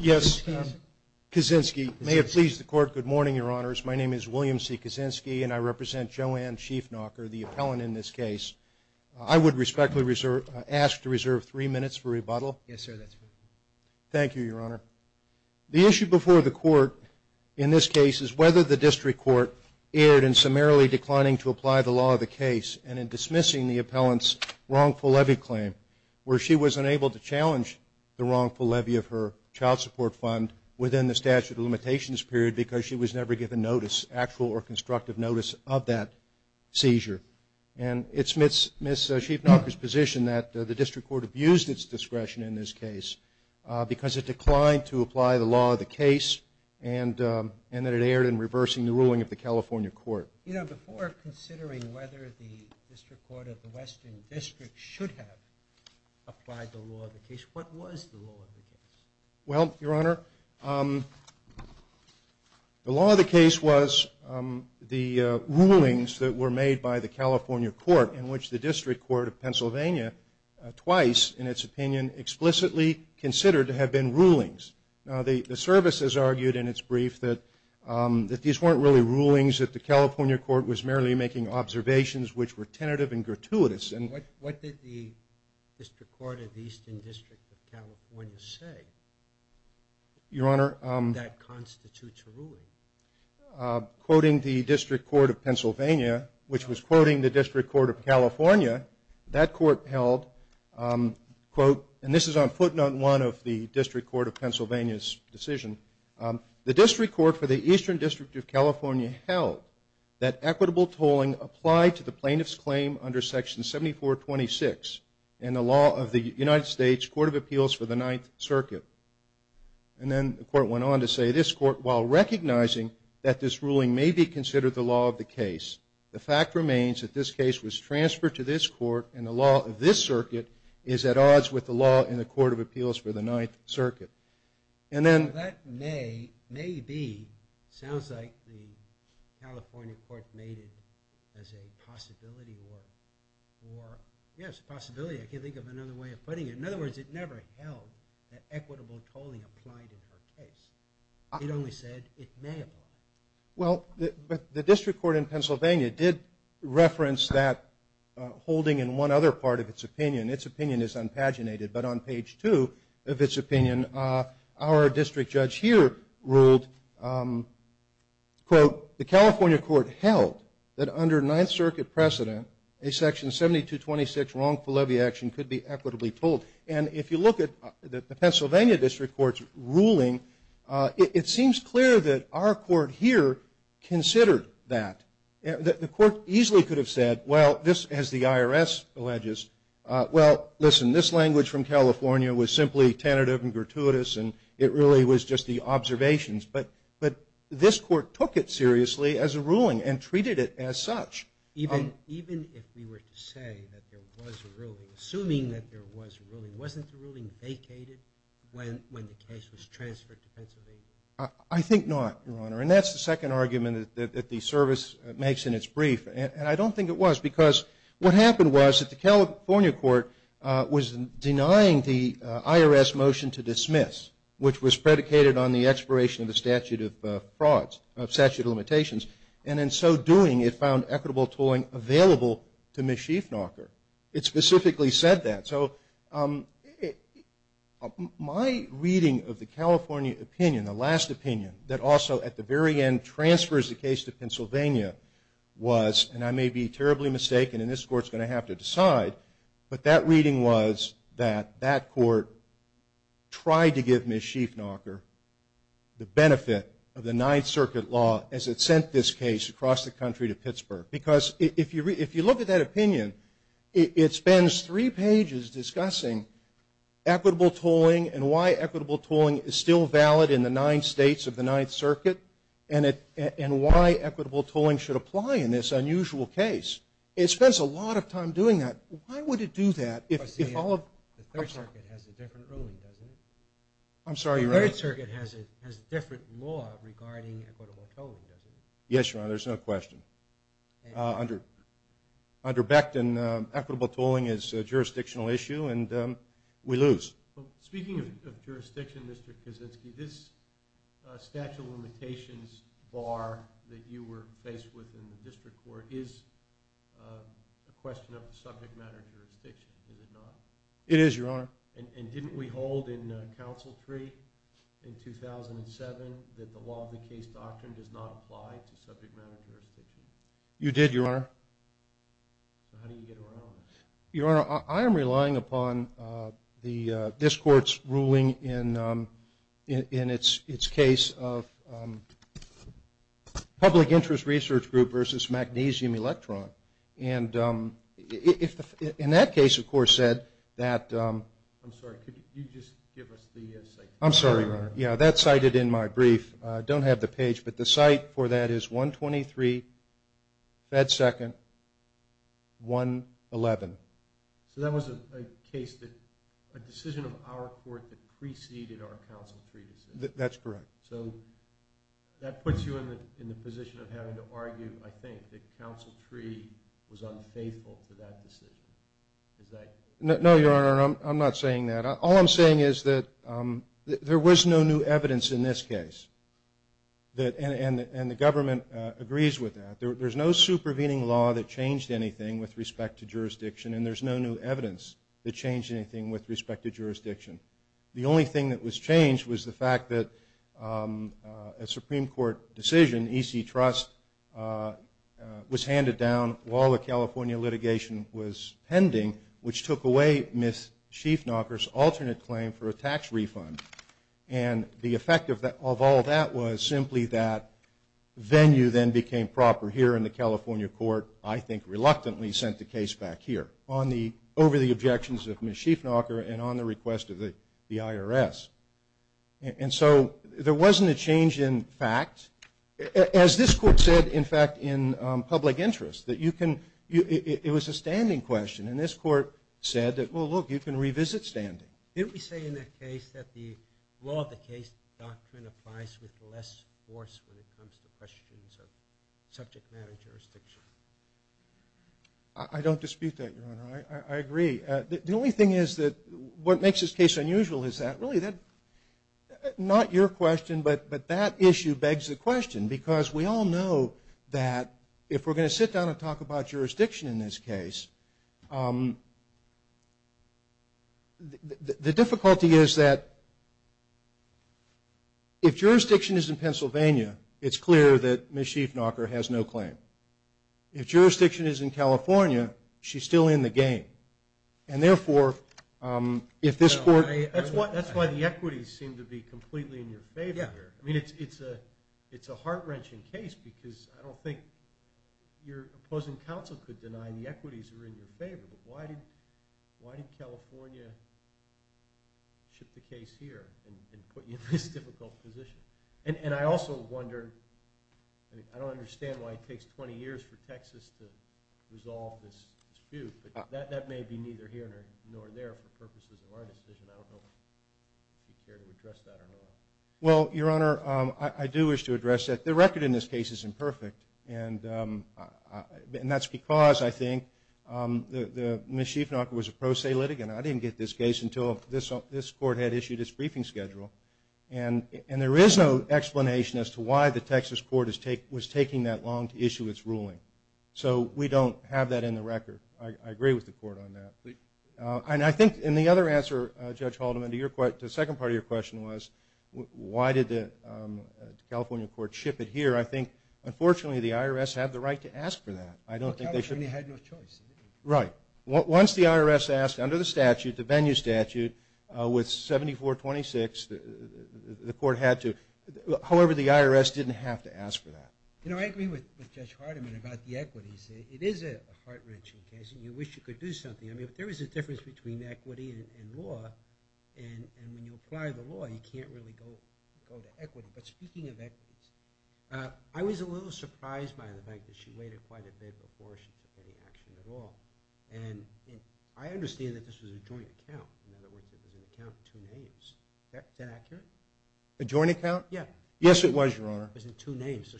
Yes, Kaczynski. May it please the Court, good morning, Your Honors. My name is William C. Kaczynski and I represent Joanne Sheafnocker, the appellant in this case. I would respectfully ask to reserve three minutes for rebuttal. Yes, sir, that's fine. Thank you, Your Honor. The issue before the Court in this case is whether the District Court erred in summarily where she was unable to challenge the wrongful levy of her child support fund within the statute of limitations period because she was never given notice, actual or constructive notice of that seizure. And it's Ms. Sheafnocker's position that the District Court abused its discretion in this case because it declined to apply the law of the case and that it erred in reversing the ruling of the California Court. You know, before considering whether the District Court of the Western District should have applied the law of the case, what was the law of the case? Well, Your Honor, the law of the case was the rulings that were made by the California Court in which the District Court of Pennsylvania twice, in its opinion, explicitly considered to have been rulings. Now, the services argued in its brief that these weren't really rulings, that the California Court was merely making observations which were tentative and gratuitous. What did the District Court of the Eastern District of California say that constitutes a ruling? Quoting the District Court of Pennsylvania, which was quoting the District Court of California, that court held, quote, and this is on footnote one of the District Court of Pennsylvania's decision, the District Court for the Eastern plaintiff's claim under section 7426 in the law of the United States Court of Appeals for the Ninth Circuit. And then the court went on to say, this court, while recognizing that this ruling may be considered the law of the case, the fact remains that this case was transferred to this court and the law of this circuit is at odds with the law in the Court of Appeals for the Ninth Circuit. And then- Now, that may, may be, sounds like the California Court made it as a possibility or, yes, a possibility. I can't think of another way of putting it. In other words, it never held that equitable tolling applied in her case. It only said it may apply. Well, the District Court in Pennsylvania did reference that holding in one other part of its opinion. Its opinion is unpaginated, but on page two of its opinion, our district judge here ruled, quote, the California court held that under Ninth Circuit precedent, a section 7226 wrongful levy action could be equitably tolled. And if you look at the Pennsylvania District Court's ruling, it seems clear that our court here considered that. The court easily could have said, well, this, as the IRS alleges, well, listen, this language from California was simply tentative and gratuitous, and it really was just the observations. But this court took it seriously as a ruling and treated it as such. Even if we were to say that there was a ruling, assuming that there was a ruling, wasn't the ruling vacated when the case was transferred to Pennsylvania? I think not, Your Honor. And that's the second argument that the service makes in its brief. And I don't think it was, because what happened was that the California court was denying the IRS motion to dismiss, which was predicated on the expiration of the statute of frauds, of statute of limitations. And in so doing, it found equitable tolling available to Ms. Schiefnacher. It specifically said that. So my reading of the California opinion, the last opinion, that also at the very end transfers the case to Pennsylvania, was, and I may be terribly mistaken, and this court's going to have to decide, but that reading was that that court tried to give Ms. Schiefnacher the benefit of the Ninth Circuit law as it sent this case across the country to Pittsburgh. Because if you look at that opinion, it spends three pages discussing equitable tolling and why equitable tolling is still valid in the nine states of the Ninth Circuit, and why equitable tolling should apply in this unusual case. It spends a lot of time doing that. Why would it do that if all of... The Third Circuit has a different ruling, doesn't it? I'm sorry, Your Honor? The Third Circuit has a different law regarding equitable tolling, doesn't it? Yes, Your Honor, there's no question. Under Becton, equitable tolling is a jurisdictional issue, and we lose. Well, speaking of jurisdiction, Mr. Kaczynski, this statute of limitations bar that you were faced with in the district court is a question of subject matter jurisdiction, is it not? It is, Your Honor. And didn't we hold in Council Tree in 2007 that the law of the case doctrine does not apply to subject matter jurisdiction? You did, Your Honor. So how do you get around this? Your Honor, I am relying upon this court's ruling in its case of public interest research group versus magnesium electron. And in that case, of course, said that... I'm sorry, could you just give us the... I'm sorry, Your Honor. Yeah, that's cited in my brief. I don't have the page, but the So that was a case that a decision of our court that preceded our Council Tree decision. That's correct. So that puts you in the position of having to argue, I think, that Council Tree was unfaithful to that decision. Is that... No, Your Honor, I'm not saying that. All I'm saying is that there was no new evidence in this case, and the government agrees with that. There's no supervening law that changed anything with respect to jurisdiction, and there's no new evidence that changed anything with respect to jurisdiction. The only thing that was changed was the fact that a Supreme Court decision, E.C. Trust, was handed down while the California litigation was pending, which took away Ms. Schiefnacher's alternate claim for a tax refund. And the effect of all that was simply that venue then became proper here in the California court, I think reluctantly sent the case back here over the objections of Ms. Schiefnacher and on the request of the IRS. And so there wasn't a change in fact. As this court said, in fact, in public interest, that it was a standing question, and this court said that, well, look, you can revisit standing. Didn't we say in that case that the law of the case doctrine applies with less force when it comes to questions of subject matter jurisdiction? I don't dispute that, Your Honor. I agree. The only thing is that what makes this case unusual is that really that, not your question, but that issue begs the question. Because we all know that if we're going to sit down and talk about jurisdiction in this case, the difficulty is that if jurisdiction is in Pennsylvania, it's clear that Ms. Schiefnacher has no claim. If jurisdiction is in California, she's still in the game. And therefore, if this court... That's why the equities seem to be completely in your favor here. I mean, it's a heart-wrenching case because I don't think your opposing counsel could deny the equities are in your favor, but why did California ship the case here and put you in this difficult position? And I also wonder, I don't understand why it takes 20 years for Texas to resolve this dispute, but that may be neither here nor there for purposes of our decision. I don't know if you care to address that or not. Well, Your Honor, I do wish to address that. The record in this case is imperfect, and that's because, I think, Ms. Schiefnacher was a pro se litigant. I didn't get this case until this court had issued its briefing schedule. And there is no explanation as to why the Texas court was taking that long to issue its ruling. So we don't have that in the record. I agree with the court on that. And I think in the other answer, Judge Haldeman, to the second part of your question was why did the California court ship it here? I think, unfortunately, the IRS had the right to ask for that. Well, California had no choice. Right. Once the IRS asked under the statute, the venue statute, with 7426, the court had to. However, the IRS didn't have to ask for that. You know, I agree with Judge Haldeman about the equities. It is a heart-wrenching case, and you wish you could do something. I mean, there is a difference between equity and law, and when you apply the law, you can't really go to equity. But speaking of equities, I was a little surprised by the fact that she waited quite a bit before she took any action at all. And I understand that this was a joint account. In other words, it was an account in two names. Is that accurate? A joint account? Yes, it was, Your Honor. It was in two names. So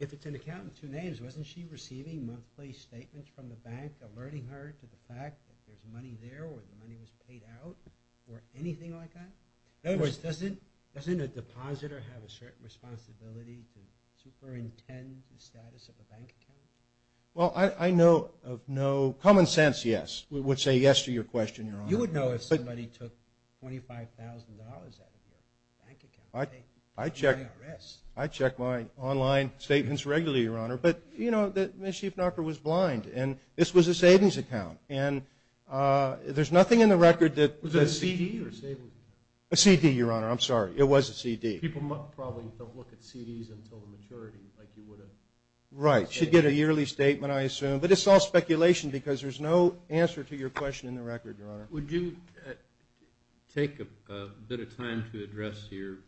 if it's an account in two names, wasn't she receiving monthly statements from the bank alerting her to the fact that there's money there, or the money was paid out, or anything like that? In other words, doesn't a depositor have a certain responsibility to superintend the status of a bank account? Well, I know of no common sense, yes. We would say yes to your question, Your Honor. You would know if somebody took $25,000 out of your bank account. I check my online statements regularly, Your Honor. But, you know, Ms. Schiff-Knocker was blind, and this was a savings account. And there's nothing in the record that – Was it a CD or savings? A CD, Your Honor. I'm sorry. It was a CD. People probably don't look at CDs until the maturity, like you would have. Right. She'd get a yearly statement, I assume. But it's all speculation because there's no answer to your question in the record, Your Honor. Would you take a bit of time to address your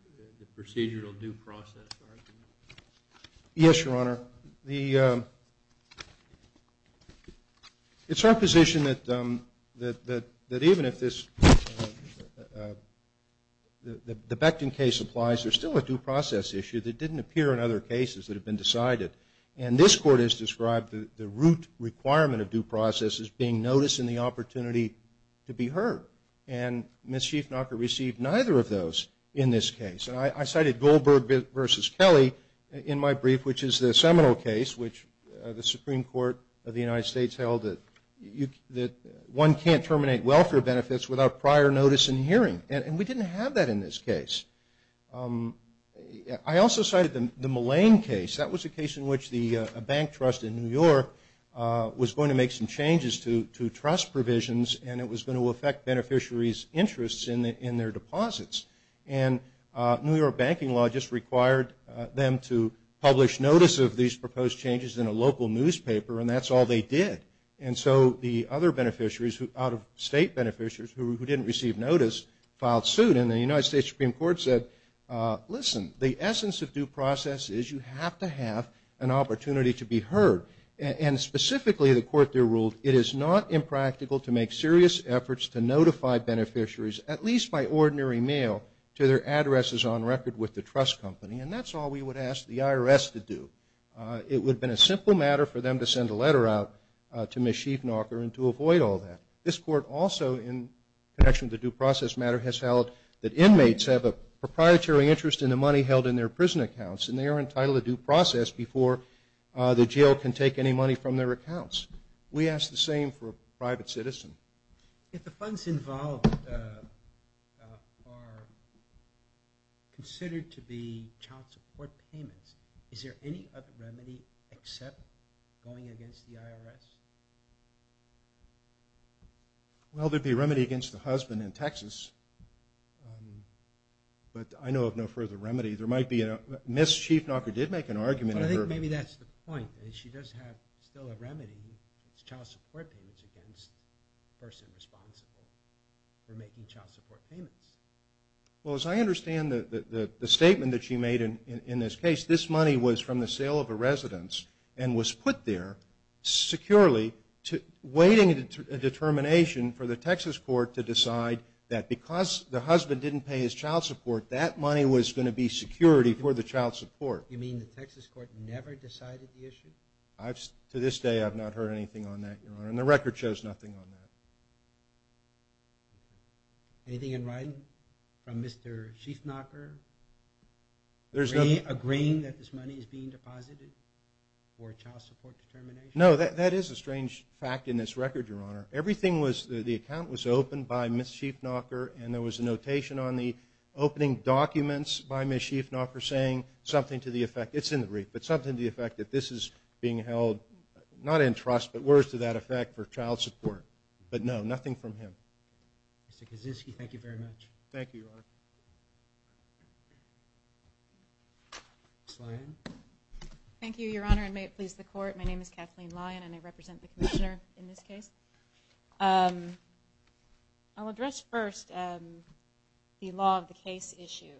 procedural due process argument? Yes, Your Honor. It's our position that even if the Becton case applies, there's still a due process issue that didn't appear in other cases that have been decided. And this Court has described the root requirement of due process as being notice and the opportunity to be heard. And Ms. Schiff-Knocker received neither of those in this case. And I cited Goldberg v. Kelly in my brief, which is the Seminole case, which the Supreme Court of the United States held that one can't terminate welfare benefits without prior notice and hearing. And we didn't have that in this case. I also cited the Mullane case. That was a case in which a bank trust in New York was going to make some changes to trust provisions, and it was going to affect beneficiaries' interests in their deposits. And New York banking law just required them to publish notice of these proposed changes in a local newspaper, and that's all they did. And so the other beneficiaries, out-of-state beneficiaries who didn't receive notice, filed suit. And the United States Supreme Court said, listen, the essence of due process is you have to have an opportunity to be heard. And specifically, the Court there ruled it is not impractical to make serious efforts to notify beneficiaries, at least by ordinary mail, to their addresses on record with the trust company. And that's all we would ask the IRS to do. It would have been a simple matter for them to send a letter out to Ms. Schiefenacher and to avoid all that. This Court also, in connection with the due process matter, has held that inmates have a proprietary interest in the money held in their prison accounts, and they are entitled to due process before the jail can take any money from their accounts. We ask the same for a private citizen. If the funds involved are considered to be child support payments, is there any other remedy except going against the IRS? Well, there would be a remedy against the husband in Texas, but I know of no further remedy. Ms. Schiefenacher did make an argument. But I think maybe that's the point, that she does have still a remedy. It's child support payments against the person responsible for making child support payments. Well, as I understand the statement that she made in this case, this money was from the sale of a residence and was put there securely, waiting a determination for the Texas Court to decide that because the husband didn't pay his child support, that money was going to be security for the child support. You mean the Texas Court never decided the issue? To this day, I've not heard anything on that, Your Honor, and the record shows nothing on that. Anything in writing from Mr. Schiefenacher? Agreeing that this money is being deposited for a child support determination? No, that is a strange fact in this record, Your Honor. Everything was, the account was opened by Ms. Schiefenacher, and there was a notation on the opening documents by Ms. Schiefenacher saying something to the effect, it's in the brief, but something to the effect that this is being held, not in trust, but words to that effect for child support. But no, nothing from him. Mr. Kaczynski, thank you very much. Thank you, Your Honor. Ms. Lyon. Thank you, Your Honor, and may it please the Court. My name is Kathleen Lyon, and I represent the Commissioner in this case. I'll address first the law of the case issue,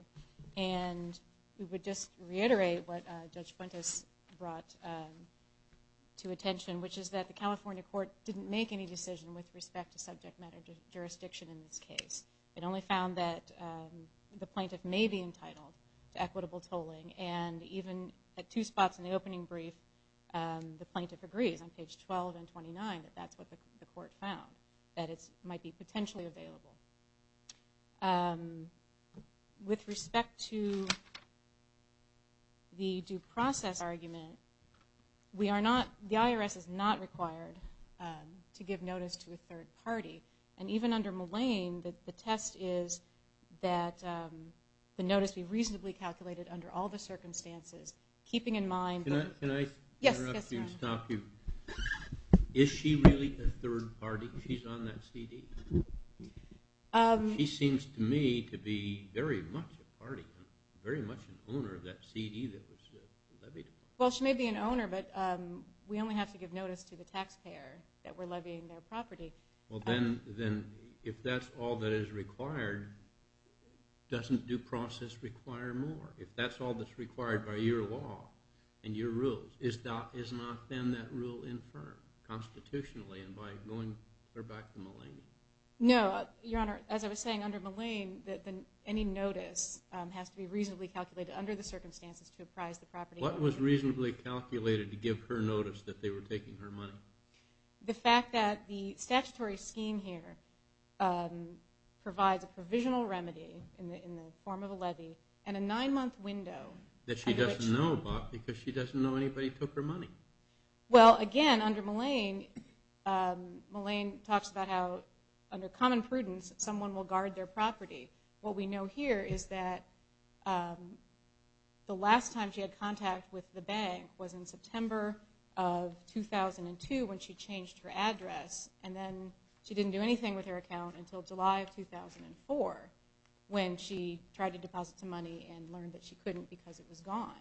and we would just reiterate what Judge Fuentes brought to attention, which is that the California court didn't make any decision with respect to subject matter jurisdiction in this case. It only found that the plaintiff may be entitled to equitable tolling, and even at two spots in the opening brief, the plaintiff agrees on page 12 and 29 that that's what the court found, that it might be potentially available. With respect to the due process argument, the IRS is not required to give notice to a third party, and even under Mullane, the test is that the notice be reasonably calculated under all the circumstances, keeping in mind the... Can I interrupt you and stop you? Yes, Your Honor. Is she really a third party? She's on that CD? She seems to me to be very much a party, very much an owner of that CD that was levied. Well, she may be an owner, but we only have to give notice to the taxpayer that we're levying their property. Well, then if that's all that is required, doesn't due process require more? If that's all that's required by your law and your rules, is not then that rule infirmed constitutionally and by going back to Mullane? No, Your Honor. As I was saying, under Mullane, any notice has to be reasonably calculated under the circumstances to apprise the property. What was reasonably calculated to give her notice that they were taking her money? The fact that the statutory scheme here provides a provisional remedy in the form of a levy and a nine-month window at which... That she doesn't know about because she doesn't know anybody took her money. Well, again, under Mullane, Mullane talks about how under common prudence, someone will guard their property. What we know here is that the last time she had contact with the bank was in September of 2002 when she changed her address, and then she didn't do anything with her account until July of 2004 when she tried to deposit some money and learned that she couldn't because it was gone.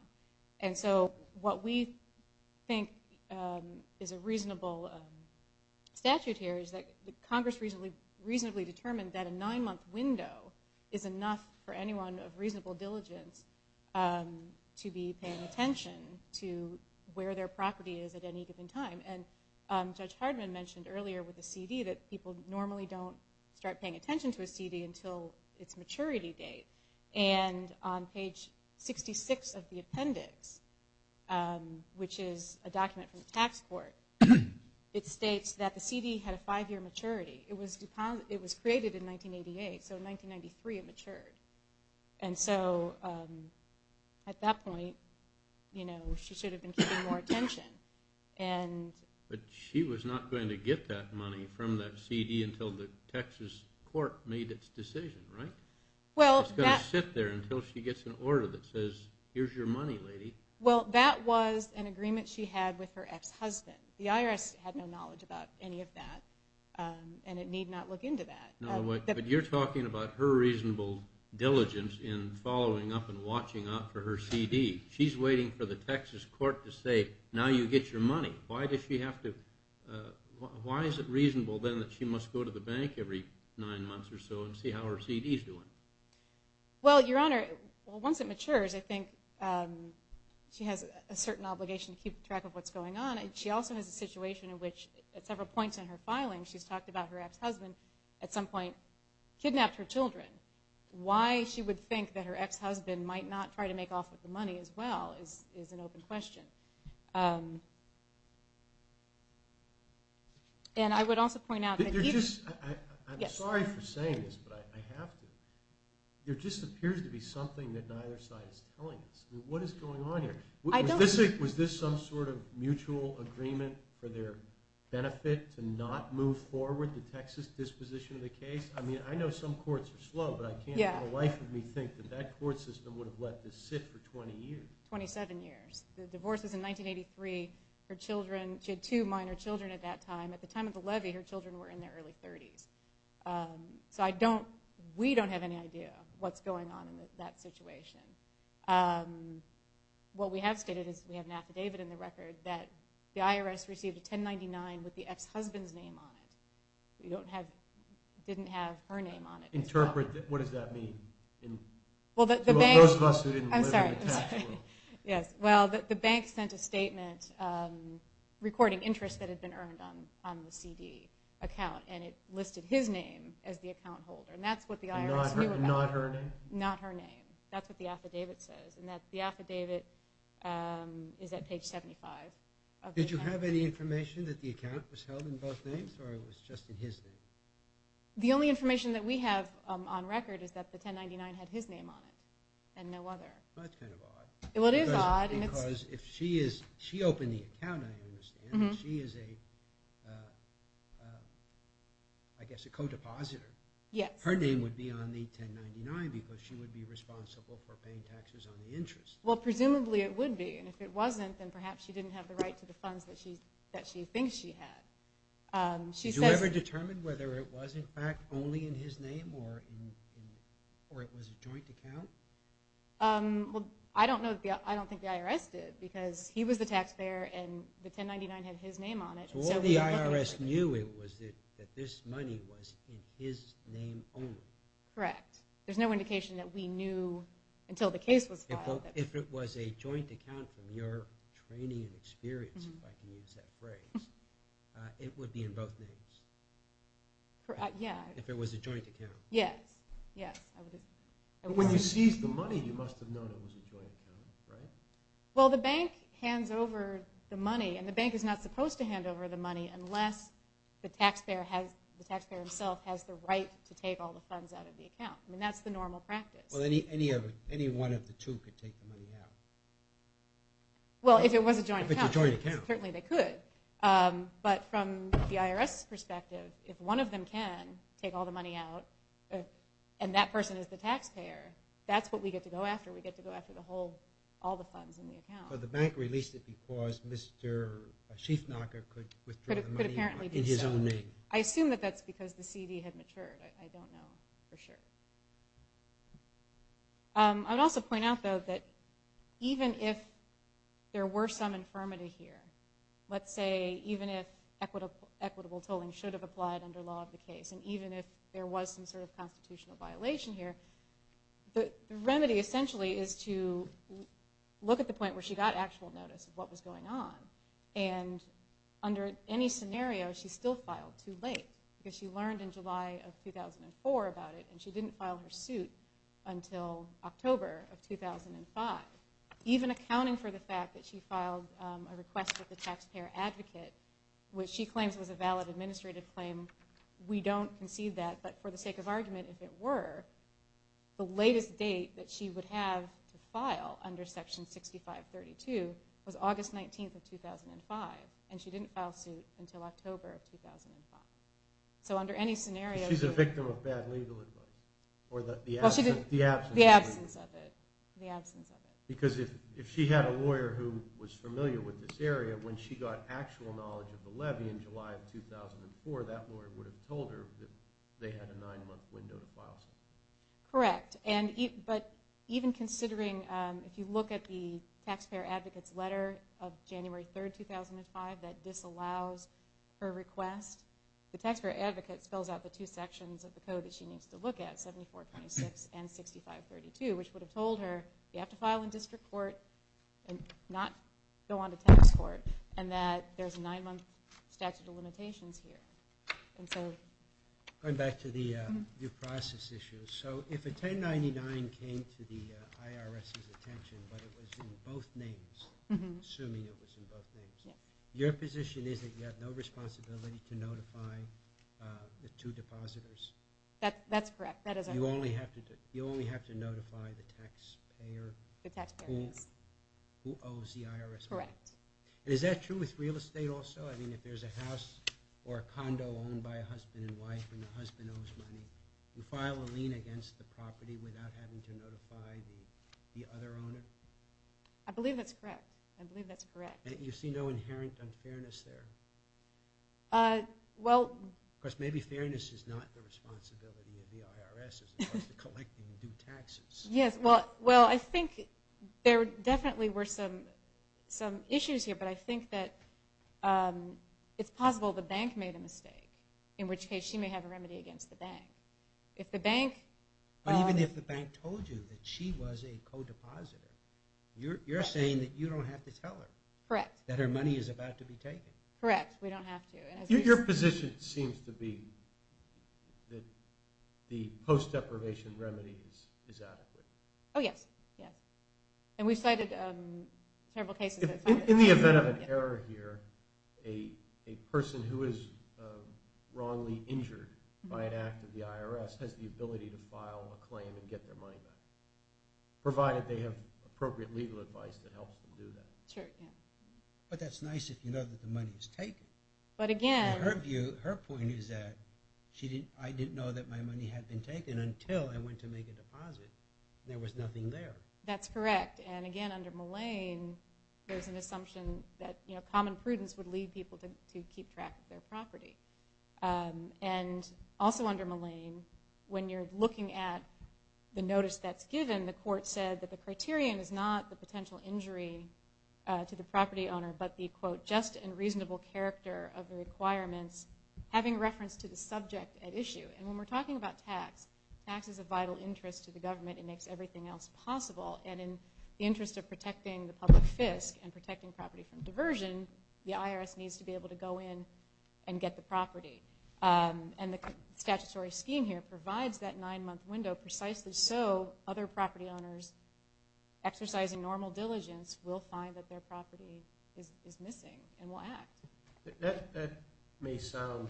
And so what we think is a reasonable statute here is that Congress reasonably determined that a nine-month window is enough for anyone of reasonable diligence to be paying attention to where their property is at any given time. And Judge Hardman mentioned earlier with the CD that people normally don't start paying attention to a CD until its maturity date. And on page 66 of the appendix, which is a document from the tax court, it states that the CD had a five-year maturity. It was created in 1988, so in 1993 it matured. And so at that point, you know, she should have been keeping more attention. But she was not going to get that money from that CD until the Texas court made its decision, right? It's going to sit there until she gets an order that says, here's your money, lady. Well, that was an agreement she had with her ex-husband. The IRS had no knowledge about any of that, and it need not look into that. But you're talking about her reasonable diligence in following up and watching out for her CD. She's waiting for the Texas court to say, now you get your money. Why does she have to – why is it reasonable, then, that she must go to the bank every nine months or so and see how her CD's doing? Well, Your Honor, once it matures, I think she has a certain obligation to keep track of what's going on. She also has a situation in which at several points in her filing, she's talked about her ex-husband at some point kidnapped her children. Why she would think that her ex-husband might not try to make off with the money as well is an open question. And I would also point out – I'm sorry for saying this, but I have to. There just appears to be something that neither side is telling us. What is going on here? Was this some sort of mutual agreement for their benefit to not move forward the Texas disposition of the case? I mean, I know some courts are slow, but I can't for the life of me think that that court system would have let this sit for 20 years. 27 years. The divorce was in 1983. Her children – she had two minor children at that time. At the time of the levy, her children were in their early 30s. So I don't – we don't have any idea what's going on in that situation. What we have stated is we have an affidavit in the record that the IRS received a 1099 with the ex-husband's name on it. We don't have – didn't have her name on it. Interpret – what does that mean? Well, the bank – For those of us who didn't – I'm sorry. I'm sorry. Yes. Well, the bank sent a statement recording interest that had been earned on the CD account, and it listed his name as the account holder. And that's what the IRS knew about. Not her name? Not her name. That's what the affidavit says. And the affidavit is at page 75. Did you have any information that the account was held in both names or it was just in his name? The only information that we have on record is that the 1099 had his name on it and no other. That's kind of odd. Well, it is odd. Because if she is – she opened the account, I understand. She is a – I guess a co-depositor. Yes. Her name would be on the 1099 because she would be responsible for paying taxes on the interest. Well, presumably it would be. And if it wasn't, then perhaps she didn't have the right to the funds that she thinks she had. Did you ever determine whether it was, in fact, only in his name or it was a joint account? Well, I don't know – I don't think the IRS did because he was the taxpayer and the 1099 had his name on it. So all the IRS knew was that this money was in his name only. Correct. There's no indication that we knew until the case was filed. If it was a joint account from your training and experience, if I can use that phrase, it would be in both names. Yeah. If it was a joint account. Yes, yes. When you seized the money, you must have known it was a joint account, right? Well, the bank hands over the money, and the bank is not supposed to hand over the money unless the taxpayer has – the taxpayer himself has the right to take all the funds out of the account. I mean, that's the normal practice. Well, any one of the two could take the money out. Well, if it was a joint account. If it's a joint account. Certainly they could. But from the IRS's perspective, if one of them can take all the money out and that person is the taxpayer, that's what we get to go after. We get to go after the whole – all the funds in the account. But the bank released it because Mr. Schiefnacher could withdraw the money in his own name. I assume that that's because the CD had matured. I don't know for sure. I would also point out, though, that even if there were some infirmity here, let's say even if equitable tolling should have applied under law of the case and even if there was some sort of constitutional violation here, the remedy essentially is to look at the point where she got actual notice of what was going on. And under any scenario, she still filed too late because she learned in July of 2004 about it, and she didn't file her suit until October of 2005. Even accounting for the fact that she filed a request with the taxpayer advocate, which she claims was a valid administrative claim, we don't concede that. But for the sake of argument, if it were, the latest date that she would have to file under Section 6532 was August 19th of 2005, and she didn't file suit until October of 2005. So under any scenario... She's a victim of bad legal advice or the absence of it. Because if she had a lawyer who was familiar with this area, when she got actual knowledge of the levy in July of 2004, that lawyer would have told her that they had a nine-month window to file suit. Correct. But even considering, if you look at the taxpayer advocate's letter of January 3rd, 2005, that disallows her request, the taxpayer advocate spells out the two sections of the code that she needs to look at, 7426 and 6532, which would have told her you have to file in district court and not go on to tax court, and that there's a nine-month statute of limitations here. Going back to the due process issue. So if a 1099 came to the IRS's attention but it was in both names, assuming it was in both names, your position is that you have no responsibility to notify the two depositors? That's correct. You only have to notify the taxpayer who owes the IRS money? Correct. And is that true with real estate also? I mean, if there's a house or a condo owned by a husband and wife and the husband owes money, you file a lien against the property without having to notify the other owner? I believe that's correct. I believe that's correct. You see no inherent unfairness there? Of course, maybe fairness is not the responsibility of the IRS as it relates to collecting due taxes. Yes, well, I think there definitely were some issues here, but I think that it's possible the bank made a mistake, in which case she may have a remedy against the bank. But even if the bank told you that she was a co-depositor, you're saying that you don't have to tell her? Correct. That her money is about to be taken? Correct. We don't have to. Your position seems to be that the post-deprivation remedy is adequate. Oh, yes. Yes. And we've cited several cases. In the event of an error here, a person who is wrongly injured by an act of the IRS has the ability to file a claim and get their money back, provided they have appropriate legal advice that helps them do that. Sure, yeah. But that's nice if you know that the money is taken. Her point is that I didn't know that my money had been taken until I went to make a deposit. There was nothing there. That's correct. And, again, under Mullane, there's an assumption that common prudence would lead people to keep track of their property. And also under Mullane, when you're looking at the notice that's given, the court said that the criterion is not the potential injury to the property owner but the, quote, just and reasonable character of the requirements, having reference to the subject at issue. And when we're talking about tax, tax is a vital interest to the government. It makes everything else possible. And in the interest of protecting the public fisc and protecting property from diversion, the IRS needs to be able to go in and get the property. And the statutory scheme here provides that nine-month window precisely so other property owners exercising normal diligence will find that their property is missing and will act. That may sound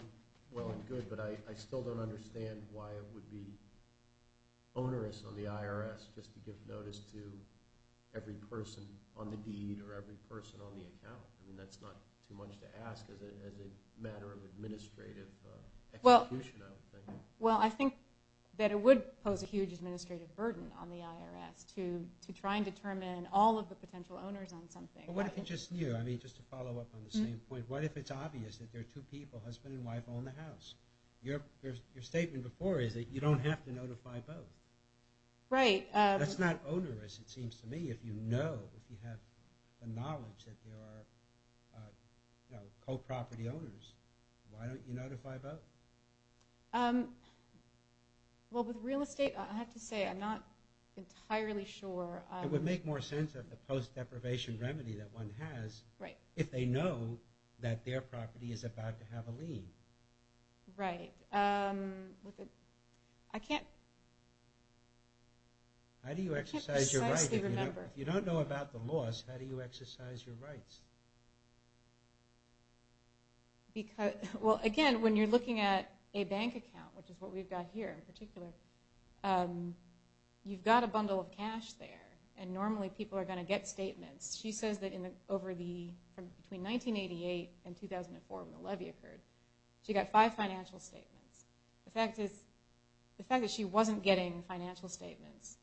well and good, but I still don't understand why it would be onerous on the IRS just to give notice to every person on the deed or every person on the account. I mean, that's not too much to ask as a matter of administrative execution, I would think. Well, I think that it would pose a huge administrative burden on the IRS to try and determine all of the potential owners on something. What if it's just you? I mean, just to follow up on the same point, what if it's obvious that there are two people, husband and wife, own the house? Your statement before is that you don't have to notify both. Right. That's not onerous, it seems to me, if you know, if you have the knowledge that there are co-property owners. Why don't you notify both? Well, with real estate, I have to say I'm not entirely sure. It would make more sense of the post-deprivation remedy that one has if they know that their property is about to have a lien. Right. I can't precisely remember. How do you exercise your rights? If you don't know about the laws, how do you exercise your rights? Well, again, when you're looking at a bank account, which is what we've got here in particular, you've got a bundle of cash there, and normally people are going to get statements. She says that between 1988 and 2004 when the levy occurred, she got five financial statements. The fact that she wasn't getting financial statements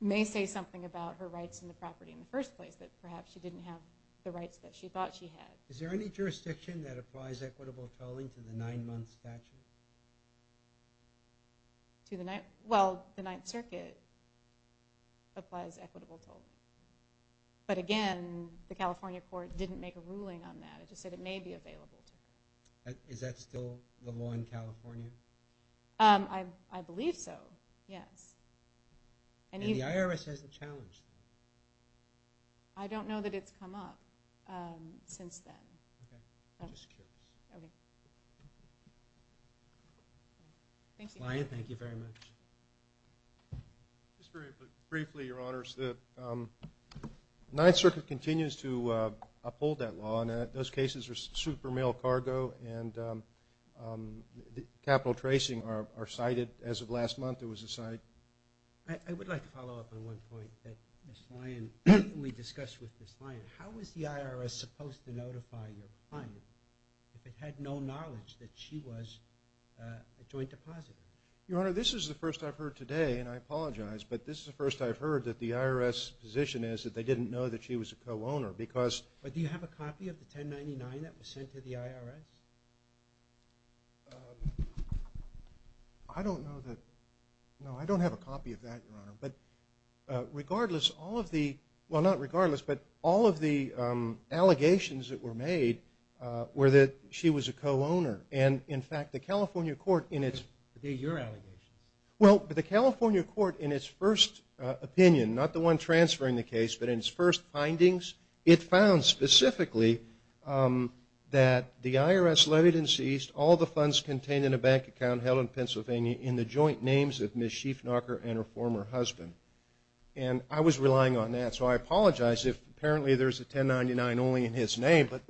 may say something about her rights in the property in the first place, that perhaps she didn't have the rights that she thought she had. Is there any jurisdiction that applies equitable tolling to the nine-month statute? To the ninth? Well, the Ninth Circuit applies equitable tolling. But again, the California court didn't make a ruling on that. It just said it may be available to her. Is that still the law in California? I believe so, yes. And the IRS has the challenge? I don't know that it's come up since then. I'm just curious. Ms. Lyon, thank you very much. Just very briefly, Your Honors, the Ninth Circuit continues to uphold that law, and those cases are super male cargo, and capital tracing are cited. As of last month, there was a cite. I would like to follow up on one point that Ms. Lyon, we discussed with Ms. Lyon. How is the IRS supposed to notify your client if it had no knowledge that she was a joint depositor? Your Honor, this is the first I've heard today, and I apologize, but this is the first I've heard that the IRS position is that they didn't know that she was a co-owner because – But do you have a copy of the 1099 that was sent to the IRS? I don't know that – no, I don't have a copy of that, Your Honor. But regardless, all of the – well, not regardless, but all of the allegations that were made were that she was a co-owner. And, in fact, the California court in its – Were they your allegations? Well, the California court in its first opinion, not the one transferring the case, but in its first findings, it found specifically that the IRS levied and ceased all the funds contained in a bank account held in Pennsylvania in the joint names of Ms. Schiefnacher and her former husband. And I was relying on that, so I apologize if apparently there's a 1099 only in his name, but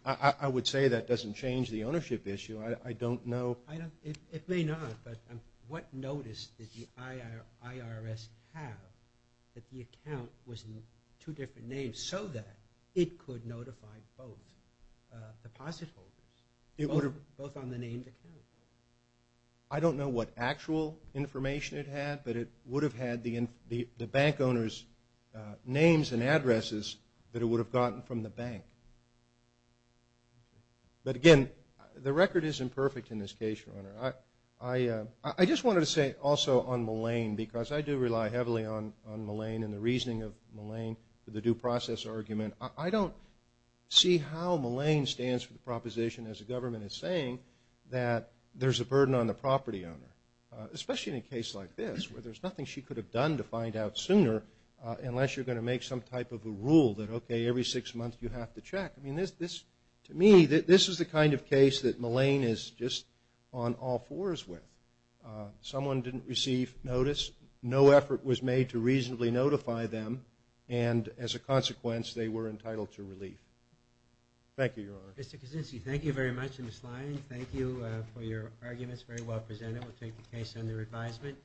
I would say that doesn't change the ownership issue. I don't know – It may not, but what notice did the IRS have that the account was in two different names so that it could notify both deposit holders, both on the named account? I don't know what actual information it had, but it would have had the bank owner's names and addresses that it would have gotten from the bank. But, again, the record isn't perfect in this case, Your Honor. I just wanted to say also on Malayne, because I do rely heavily on Malayne and the reasoning of Malayne for the due process argument. I don't see how Malayne stands for the proposition, as the government is saying, that there's a burden on the property owner, especially in a case like this where there's nothing she could have done to find out sooner unless you're going to make some type of a rule that, okay, every six months you have to check. I mean, to me, this is the kind of case that Malayne is just on all fours with. Someone didn't receive notice. No effort was made to reasonably notify them, and as a consequence they were entitled to relief. Thank you, Your Honor. Mr. Kuczynski, thank you very much in this line. Thank you for your arguments. It was very well presented. We'll take the case under advisement.